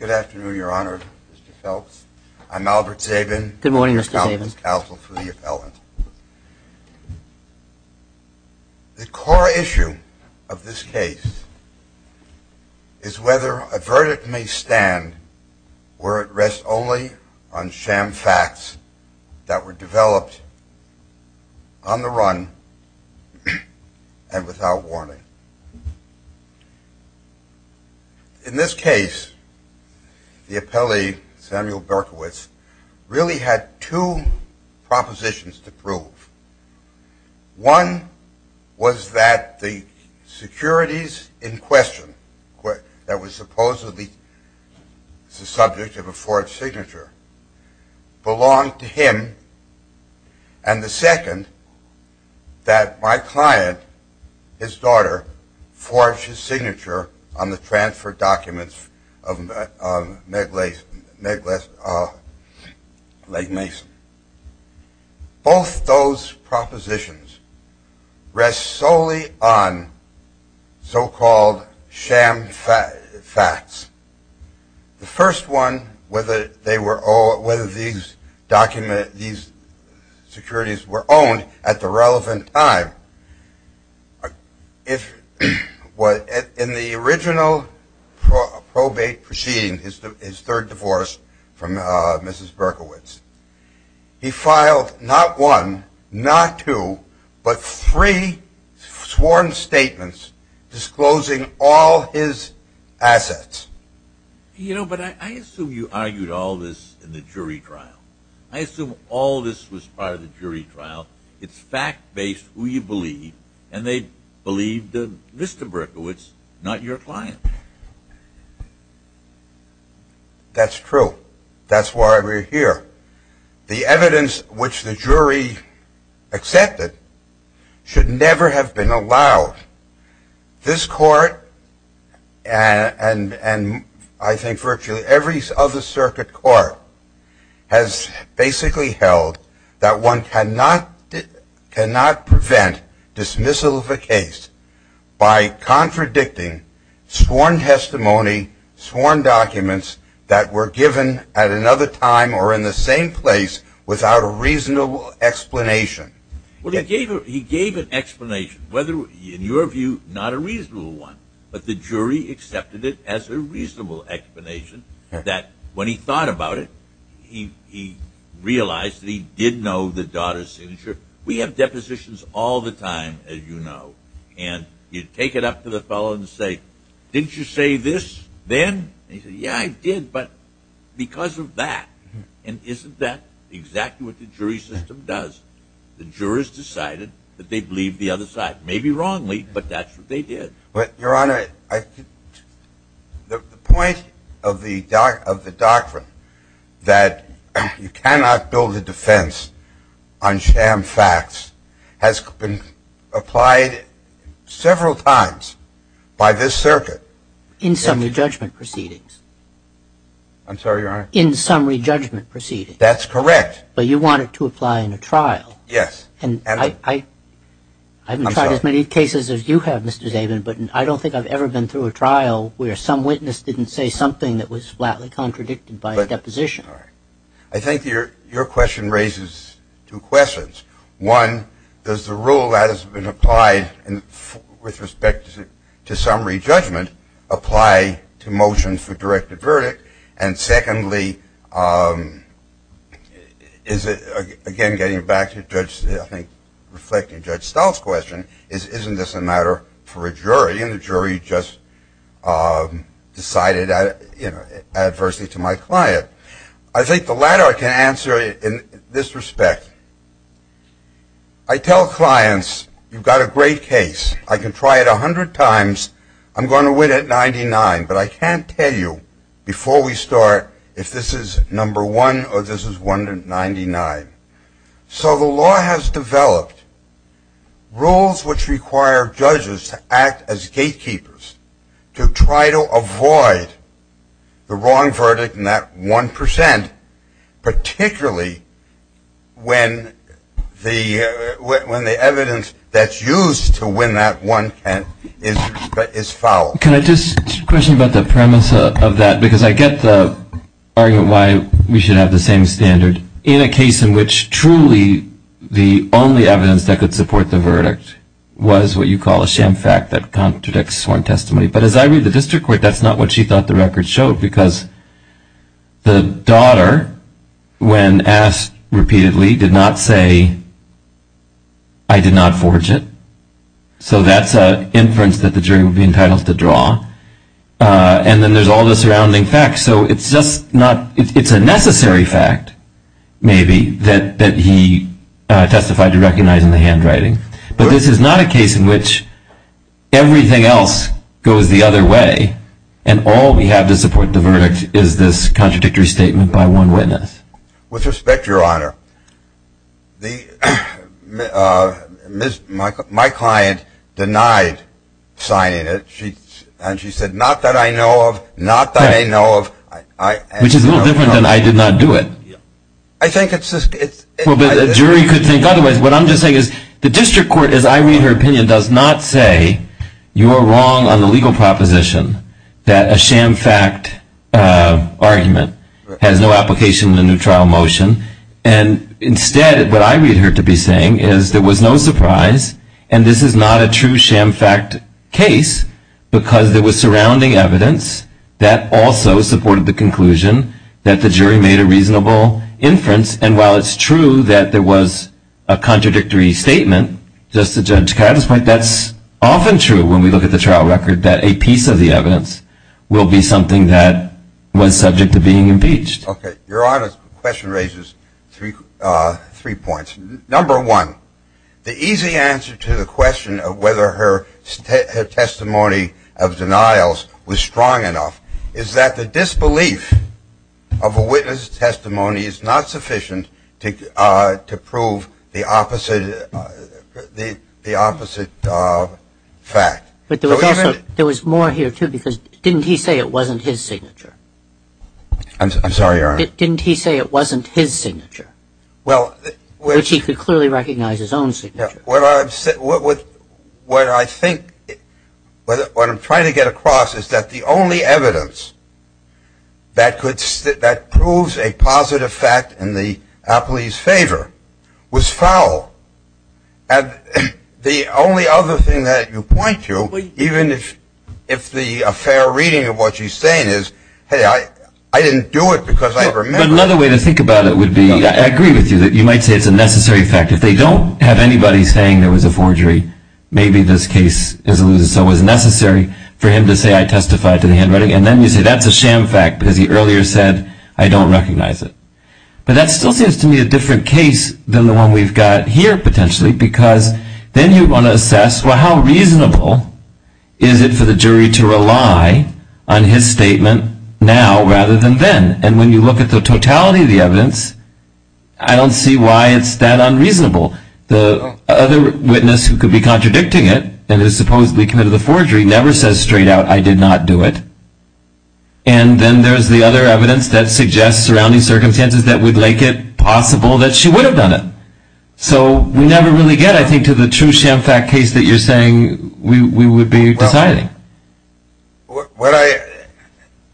Good afternoon, Your Honor, Mr. Phelps. I'm Albert Sabin. The core issue of this case is whether a verdict may stand where it rests only on sham facts that were developed on the run and without warning. In this case, the appellee, Samuel Berkowitz, had two propositions to prove. One was that the securities in question, that was supposedly the subject of a forged signature, belonged to him. And the second, that my client, his daughter, forged his signature on the transfer documents of Meg Mason. Both those propositions rest solely on so-called sham facts. The first one, whether these securities were owned at the relevant time, in the original probate proceeding, his third divorce from Mrs. Berkowitz, he filed not one, not two, but three sworn statements disclosing all his assets. You know, but I assume you argued all this in the jury trial. I assume all this was part of the jury trial. It's fact-based, who you believe, and they believed Mr. Berkowitz, not your client. That's true. That's why we're here. The evidence which the jury accepted should never have been allowed. This court and I think virtually every other circuit court has basically held that one cannot prevent dismissal of a case by contradicting sworn testimony, sworn documents that were given at another time or in the same place without a reasonable explanation. Well, he gave an explanation, whether in your view not a reasonable one, but the jury accepted it as a reasonable explanation that when he thought about it, he realized that he did know the daughter's signature. We have depositions all the time, as you know, and you take it up to the fellow and say, didn't you say this then? He said, yeah, I did, but because of that. And isn't that exactly what the jury system does? The jurors decided that they believed the other side, maybe wrongly, but that's what they did. Your Honor, the point of the doctrine that you cannot build a defense on sham facts has been applied several times by this circuit. In summary judgment proceedings. I'm sorry, Your Honor? In summary judgment proceedings. That's correct. But you want it to apply in a trial. Yes. And I haven't tried as many cases as you have, Mr. Zabin, but I don't think I've ever been through a trial where some witness didn't say something that was flatly contradicted by a deposition. I think your question raises two questions. One, does the rule that has been applied with respect to summary judgment apply to motions for directed verdict? And secondly, is it, again, getting back to Judge, I think, reflecting Judge Stahl's question, isn't this a matter for a jury? And the jury just decided, you know, adversely to my client. I think the latter can answer in this respect. I tell clients, you've got a great case. I can try it a hundred times. I'm going to win at 99, but I can't tell you before we start if this is number one or this is 199. So the law has developed rules which require judges to act as gatekeepers to try to avoid the wrong verdict in that 1%, particularly when the evidence that's used to win that 1% is fouled. Can I just question about the premise of that? Because I get the argument why we should have the same standard in a case in which truly the only evidence that could support the verdict was what you call a sham fact that contradicts sworn testimony. But as I read the district court, that's not what she thought the record showed, because the daughter, when asked repeatedly, did not say, I did not forge it. So that's an inference that the jury would be entitled to draw. And then there's all the surrounding facts. So it's just not, it's a necessary fact, maybe, that he testified to recognize in the other way, and all we have to support the verdict is this contradictory statement by one witness. With respect, Your Honor, my client denied signing it, and she said, not that I know of, not that I know of. Which is a little different than I did not do it. I think it's just... Well, but a jury could think otherwise. What I'm just saying is, the district court, as I read her opinion, does not say, you are wrong on the legal proposition that a sham fact argument has no application in the new trial motion. And instead, what I read her to be saying is, there was no surprise, and this is not a true sham fact case, because there was surrounding evidence that also supported the conclusion that the jury made a reasonable inference. And while it's true that there was a contradictory statement, just to Judge Katz's point, that's often true when we look at the trial record, that a piece of the evidence will be something that was subject to being impeached. Okay. Your Honor's question raises three points. Number one, the easy answer to the question of whether her testimony of denials was strong enough is that the disbelief of a witness' testimony is not sufficient to prove the opposite fact. But there was more here, too, because didn't he say it wasn't his signature? I'm sorry, Your Honor. Didn't he say it wasn't his signature? Well... Which he could clearly recognize his own signature. What I'm trying to get across is that the only evidence that proves a positive fact in the appellee's favor was foul. And the only other thing that you point to, even if the fair reading of what she's saying is, hey, I didn't do it because I remember. But another way to think about it would be, I agree with you, that you might say it's a necessary fact. If they don't have anybody saying there was a forgery, maybe this case is elusive. So it was necessary for him to say, I testify to the handwriting. And then you say, that's a sham fact, because he earlier said, I don't recognize it. But that still seems to me a different case than the one we've got here, potentially, because then you want to assess, well, how reasonable is it for the jury to rely on his statement now rather than then? And when you look at the totality of the evidence, I don't see why it's that unreasonable. The other witness who could be contradicting it and has supposedly committed the forgery never says straight out, I did not do it. And then there's the other evidence that suggests surrounding circumstances that would make it possible that she would have done it. So we never really get, I think, to the true sham fact case that you're saying we would be deciding.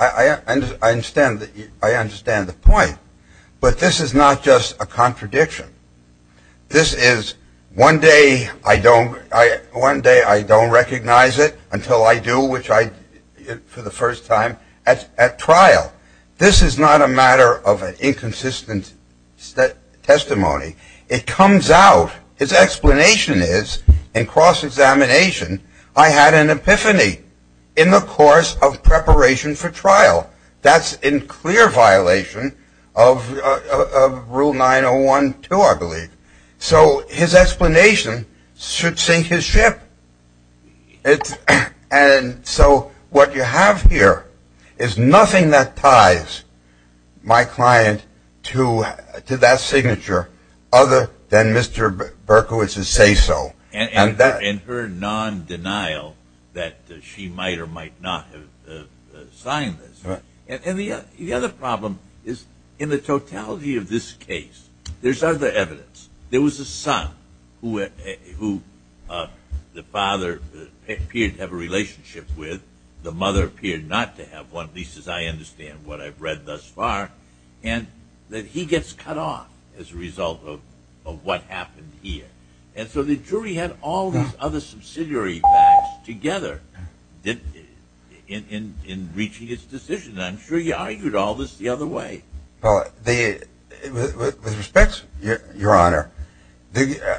I understand the point. But this is not just a contradiction. This is one day I don't recognize it until I do, which I did for the first time at trial. This is not a matter of an inconsistent testimony. It comes out, his explanation is, in cross-examination, I had an epiphany in the course of preparation for trial. That's in clear violation of Rule 901.2, I believe. So his explanation should sink his ship. And so what you have here is nothing that ties my client to that signature other than Mr. Berkowitz's say-so. And her non-denial that she might or might not have signed this. And the other problem is in the totality of this case, there's other evidence. There was a son who the father appeared to have a relationship with. The mother appeared not to have one, at least as I understand what I've read thus far. And he gets cut off as a result of what happened here. And so the jury had all these other subsidiary facts together in reaching its decision. And I'm sure you argued all this the other way. Well, with respect, Your Honor, the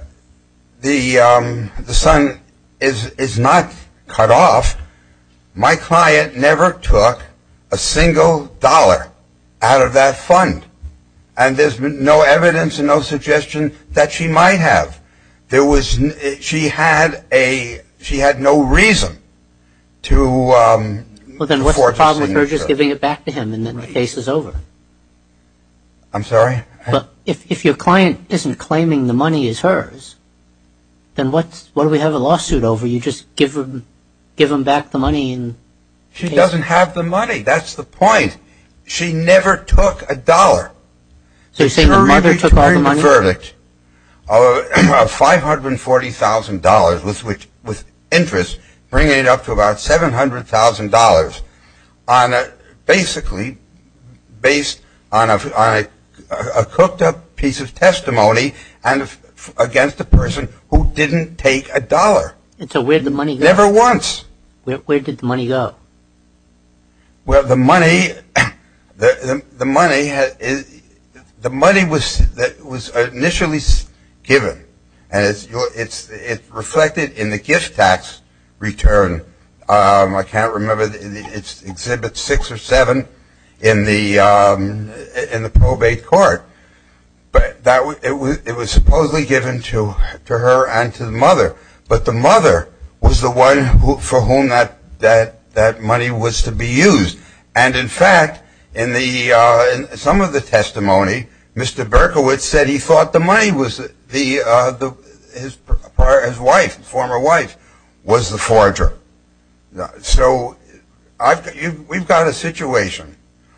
son is not cut off. My client never took a single dollar out of that fund. And there's no evidence and no suggestion that she might have. She had no reason to forge a signature. And then the case is over. I'm sorry? If your client isn't claiming the money is hers, then what do we have a lawsuit over? You just give them back the money? She doesn't have the money. That's the point. She never took a dollar. So you're saying the mother took all the money? of $540,000 with interest, bringing it up to about $700,000, basically based on a cooked-up piece of testimony against a person who didn't take a dollar. And so where did the money go? Never once. Where did the money go? Well, the money was initially given. And it's reflected in the gift tax return. I can't remember. It's Exhibit 6 or 7 in the probate court. But it was supposedly given to her and to the mother. But the mother was the one for whom that money was to be used. And, in fact, in some of the testimony, Mr. Berkowitz said he thought the money was his wife, his former wife, was the forger. So we've got a situation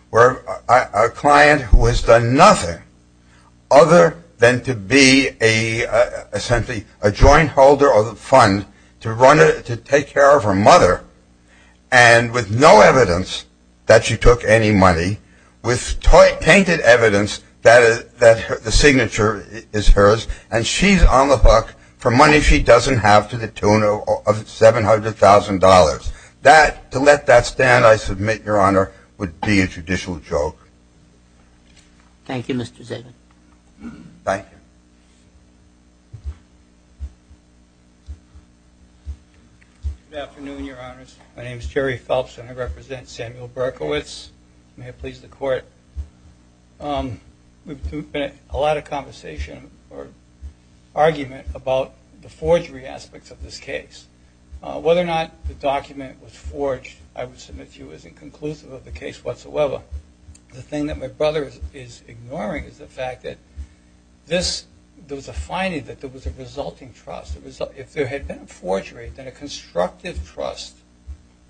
where a client who has done nothing other than to be, essentially, a joint holder of the fund to take care of her mother, and with no evidence that she took any money, with tainted evidence that the signature is hers, and she's on the hook for money she doesn't have to the tune of $700,000. To let that stand, I submit, Your Honor, would be a judicial joke. Thank you, Mr. Zivit. Thank you. Good afternoon, Your Honors. My name is Jerry Phelps, and I represent Samuel Berkowitz. May it please the Court. We've had a lot of conversation or argument about the forgery aspects of this case. Whether or not the document was forged, I would submit to you, isn't conclusive of the case whatsoever. The thing that my brother is ignoring is the fact that there was a finding that there was a resulting trust. If there had been a forgery, then a constructive trust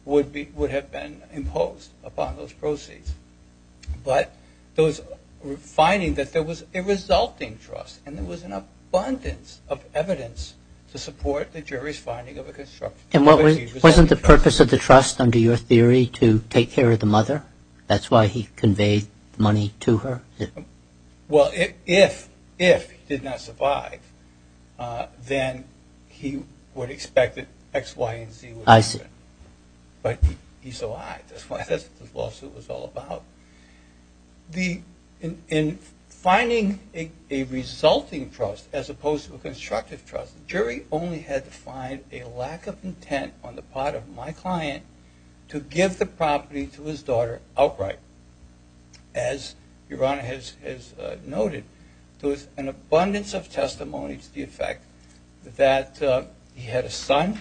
would have been imposed upon those proceeds. But those findings that there was a resulting trust, and there was an abundance of evidence to support the jury's finding of a constructive trust. And wasn't the purpose of the trust, under your theory, to take care of the mother? That's why he conveyed money to her? Well, if he did not survive, then he would expect that X, Y, and Z would happen. I see. But he survived. That's what the lawsuit was all about. In finding a resulting trust as opposed to a constructive trust, the jury only had to find a lack of intent on the part of my client to give the property to his daughter outright. As your Honor has noted, there was an abundance of testimony to the effect that he had a son,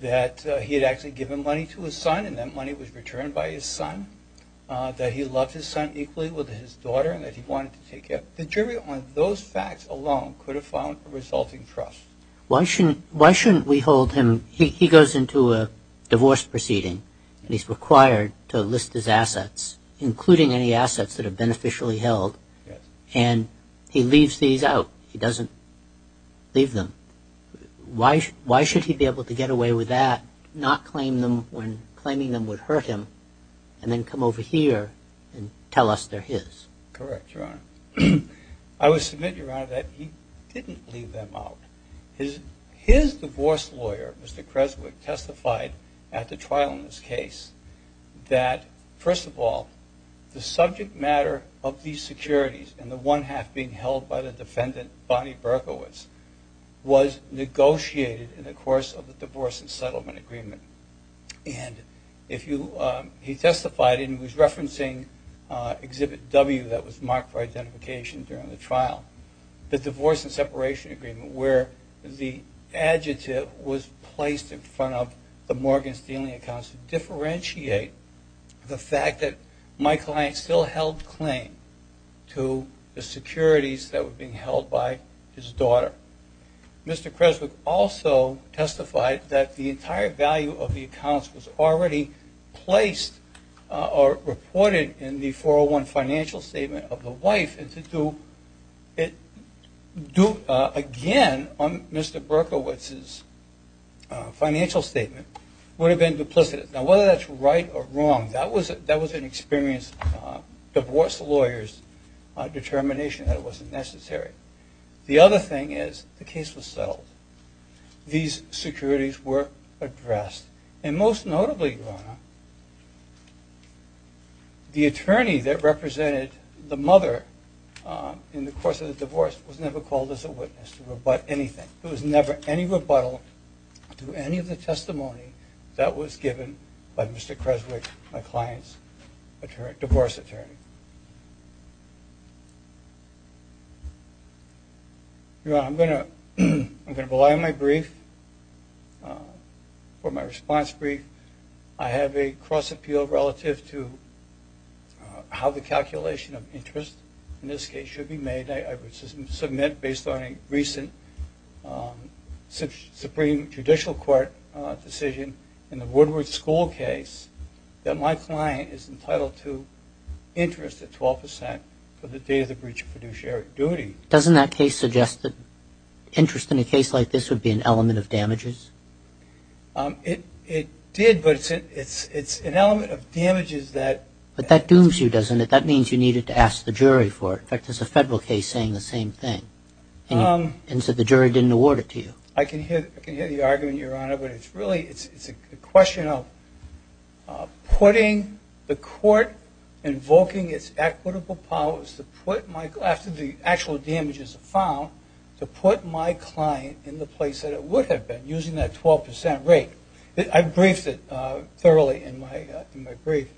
that he had actually given money to his son, and that money was returned by his son, that he loved his son equally with his daughter, and that he wanted to take care. But the jury on those facts alone could have found a resulting trust. Why shouldn't we hold him? He goes into a divorce proceeding, and he's required to list his assets, including any assets that are beneficially held. And he leaves these out. He doesn't leave them. Why should he be able to get away with that, not claim them when claiming them would hurt him, and then come over here and tell us they're his? Correct, Your Honor. I would submit, Your Honor, that he didn't leave them out. His divorce lawyer, Mr. Kreswick, testified at the trial in this case that, first of all, the subject matter of these securities and the one half being held by the defendant, Bonnie Berkowitz, was negotiated in the course of the divorce and settlement agreement. And he testified, and he was referencing Exhibit W that was marked for identification during the trial, the divorce and separation agreement, where the adjective was placed in front of the Morgan Stealing Accounts to differentiate the fact that my client still held claim to the securities that were being held by his daughter. Mr. Kreswick also testified that the entire value of the accounts was already placed or reported in the 401 financial statement of the wife, and to do it again on Mr. Berkowitz's financial statement would have been duplicitous. Now, whether that's right or wrong, that was an experienced divorce lawyer's determination that it wasn't necessary. The other thing is the case was settled. These securities were addressed, and most notably, Ronna, the attorney that represented the mother in the course of the divorce was never called as a witness to rebut anything. There was never any rebuttal to any of the testimony that was given by Mr. Kreswick, my client's divorce attorney. Your Honor, I'm going to rely on my brief for my response brief. I have a cross appeal relative to how the calculation of interest, in this case, should be made. I would submit based on a recent Supreme Judicial Court decision in the Woodward School case that my client is entitled to interest at 12% for the day of the breach of fiduciary duty. Doesn't that case suggest that interest in a case like this would be an element of damages? It did, but it's an element of damages that — But that dooms you, doesn't it? That means you needed to ask the jury for it. In fact, there's a federal case saying the same thing, and so the jury didn't award it to you. I can hear the argument, Your Honor, but it's really a question of putting the court invoking its equitable powers after the actual damages are found to put my client in the place that it would have been using that 12% rate. I briefed it thoroughly in my brief,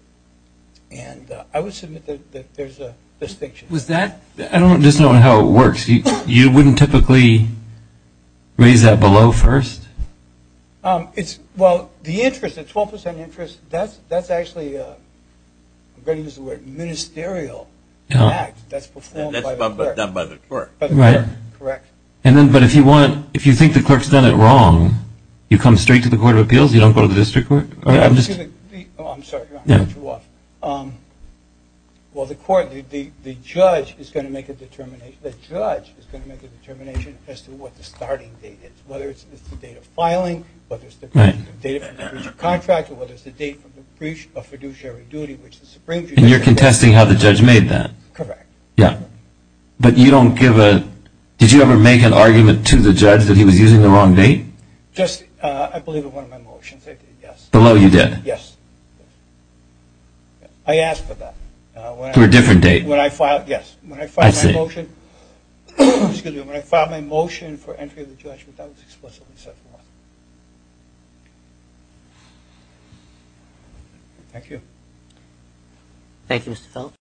and I would submit that there's a distinction. I don't understand how it works. You wouldn't typically raise that below first? Well, the interest, the 12% interest, that's actually, I'm going to use the word, ministerial act. That's performed by the clerk. That's done by the clerk. Right. Correct. But if you think the clerk's done it wrong, you come straight to the Court of Appeals, you don't go to the district court? I'm sorry, Your Honor, I'm too off. Well, the judge is going to make a determination as to what the starting date is, whether it's the date of filing, whether it's the date of the breach of contract, or whether it's the date of the breach of fiduciary duty. And you're contesting how the judge made that? Correct. Yeah. But you don't give a, did you ever make an argument to the judge that he was using the wrong date? Just, I believe in one of my motions, I did, yes. Below, you did? Yes. I asked for that. For a different date? When I filed, yes. I see. Excuse me. When I filed my motion for entry of the judgment, that was explicitly set for one. Thank you. Thank you, Mr. Phelps.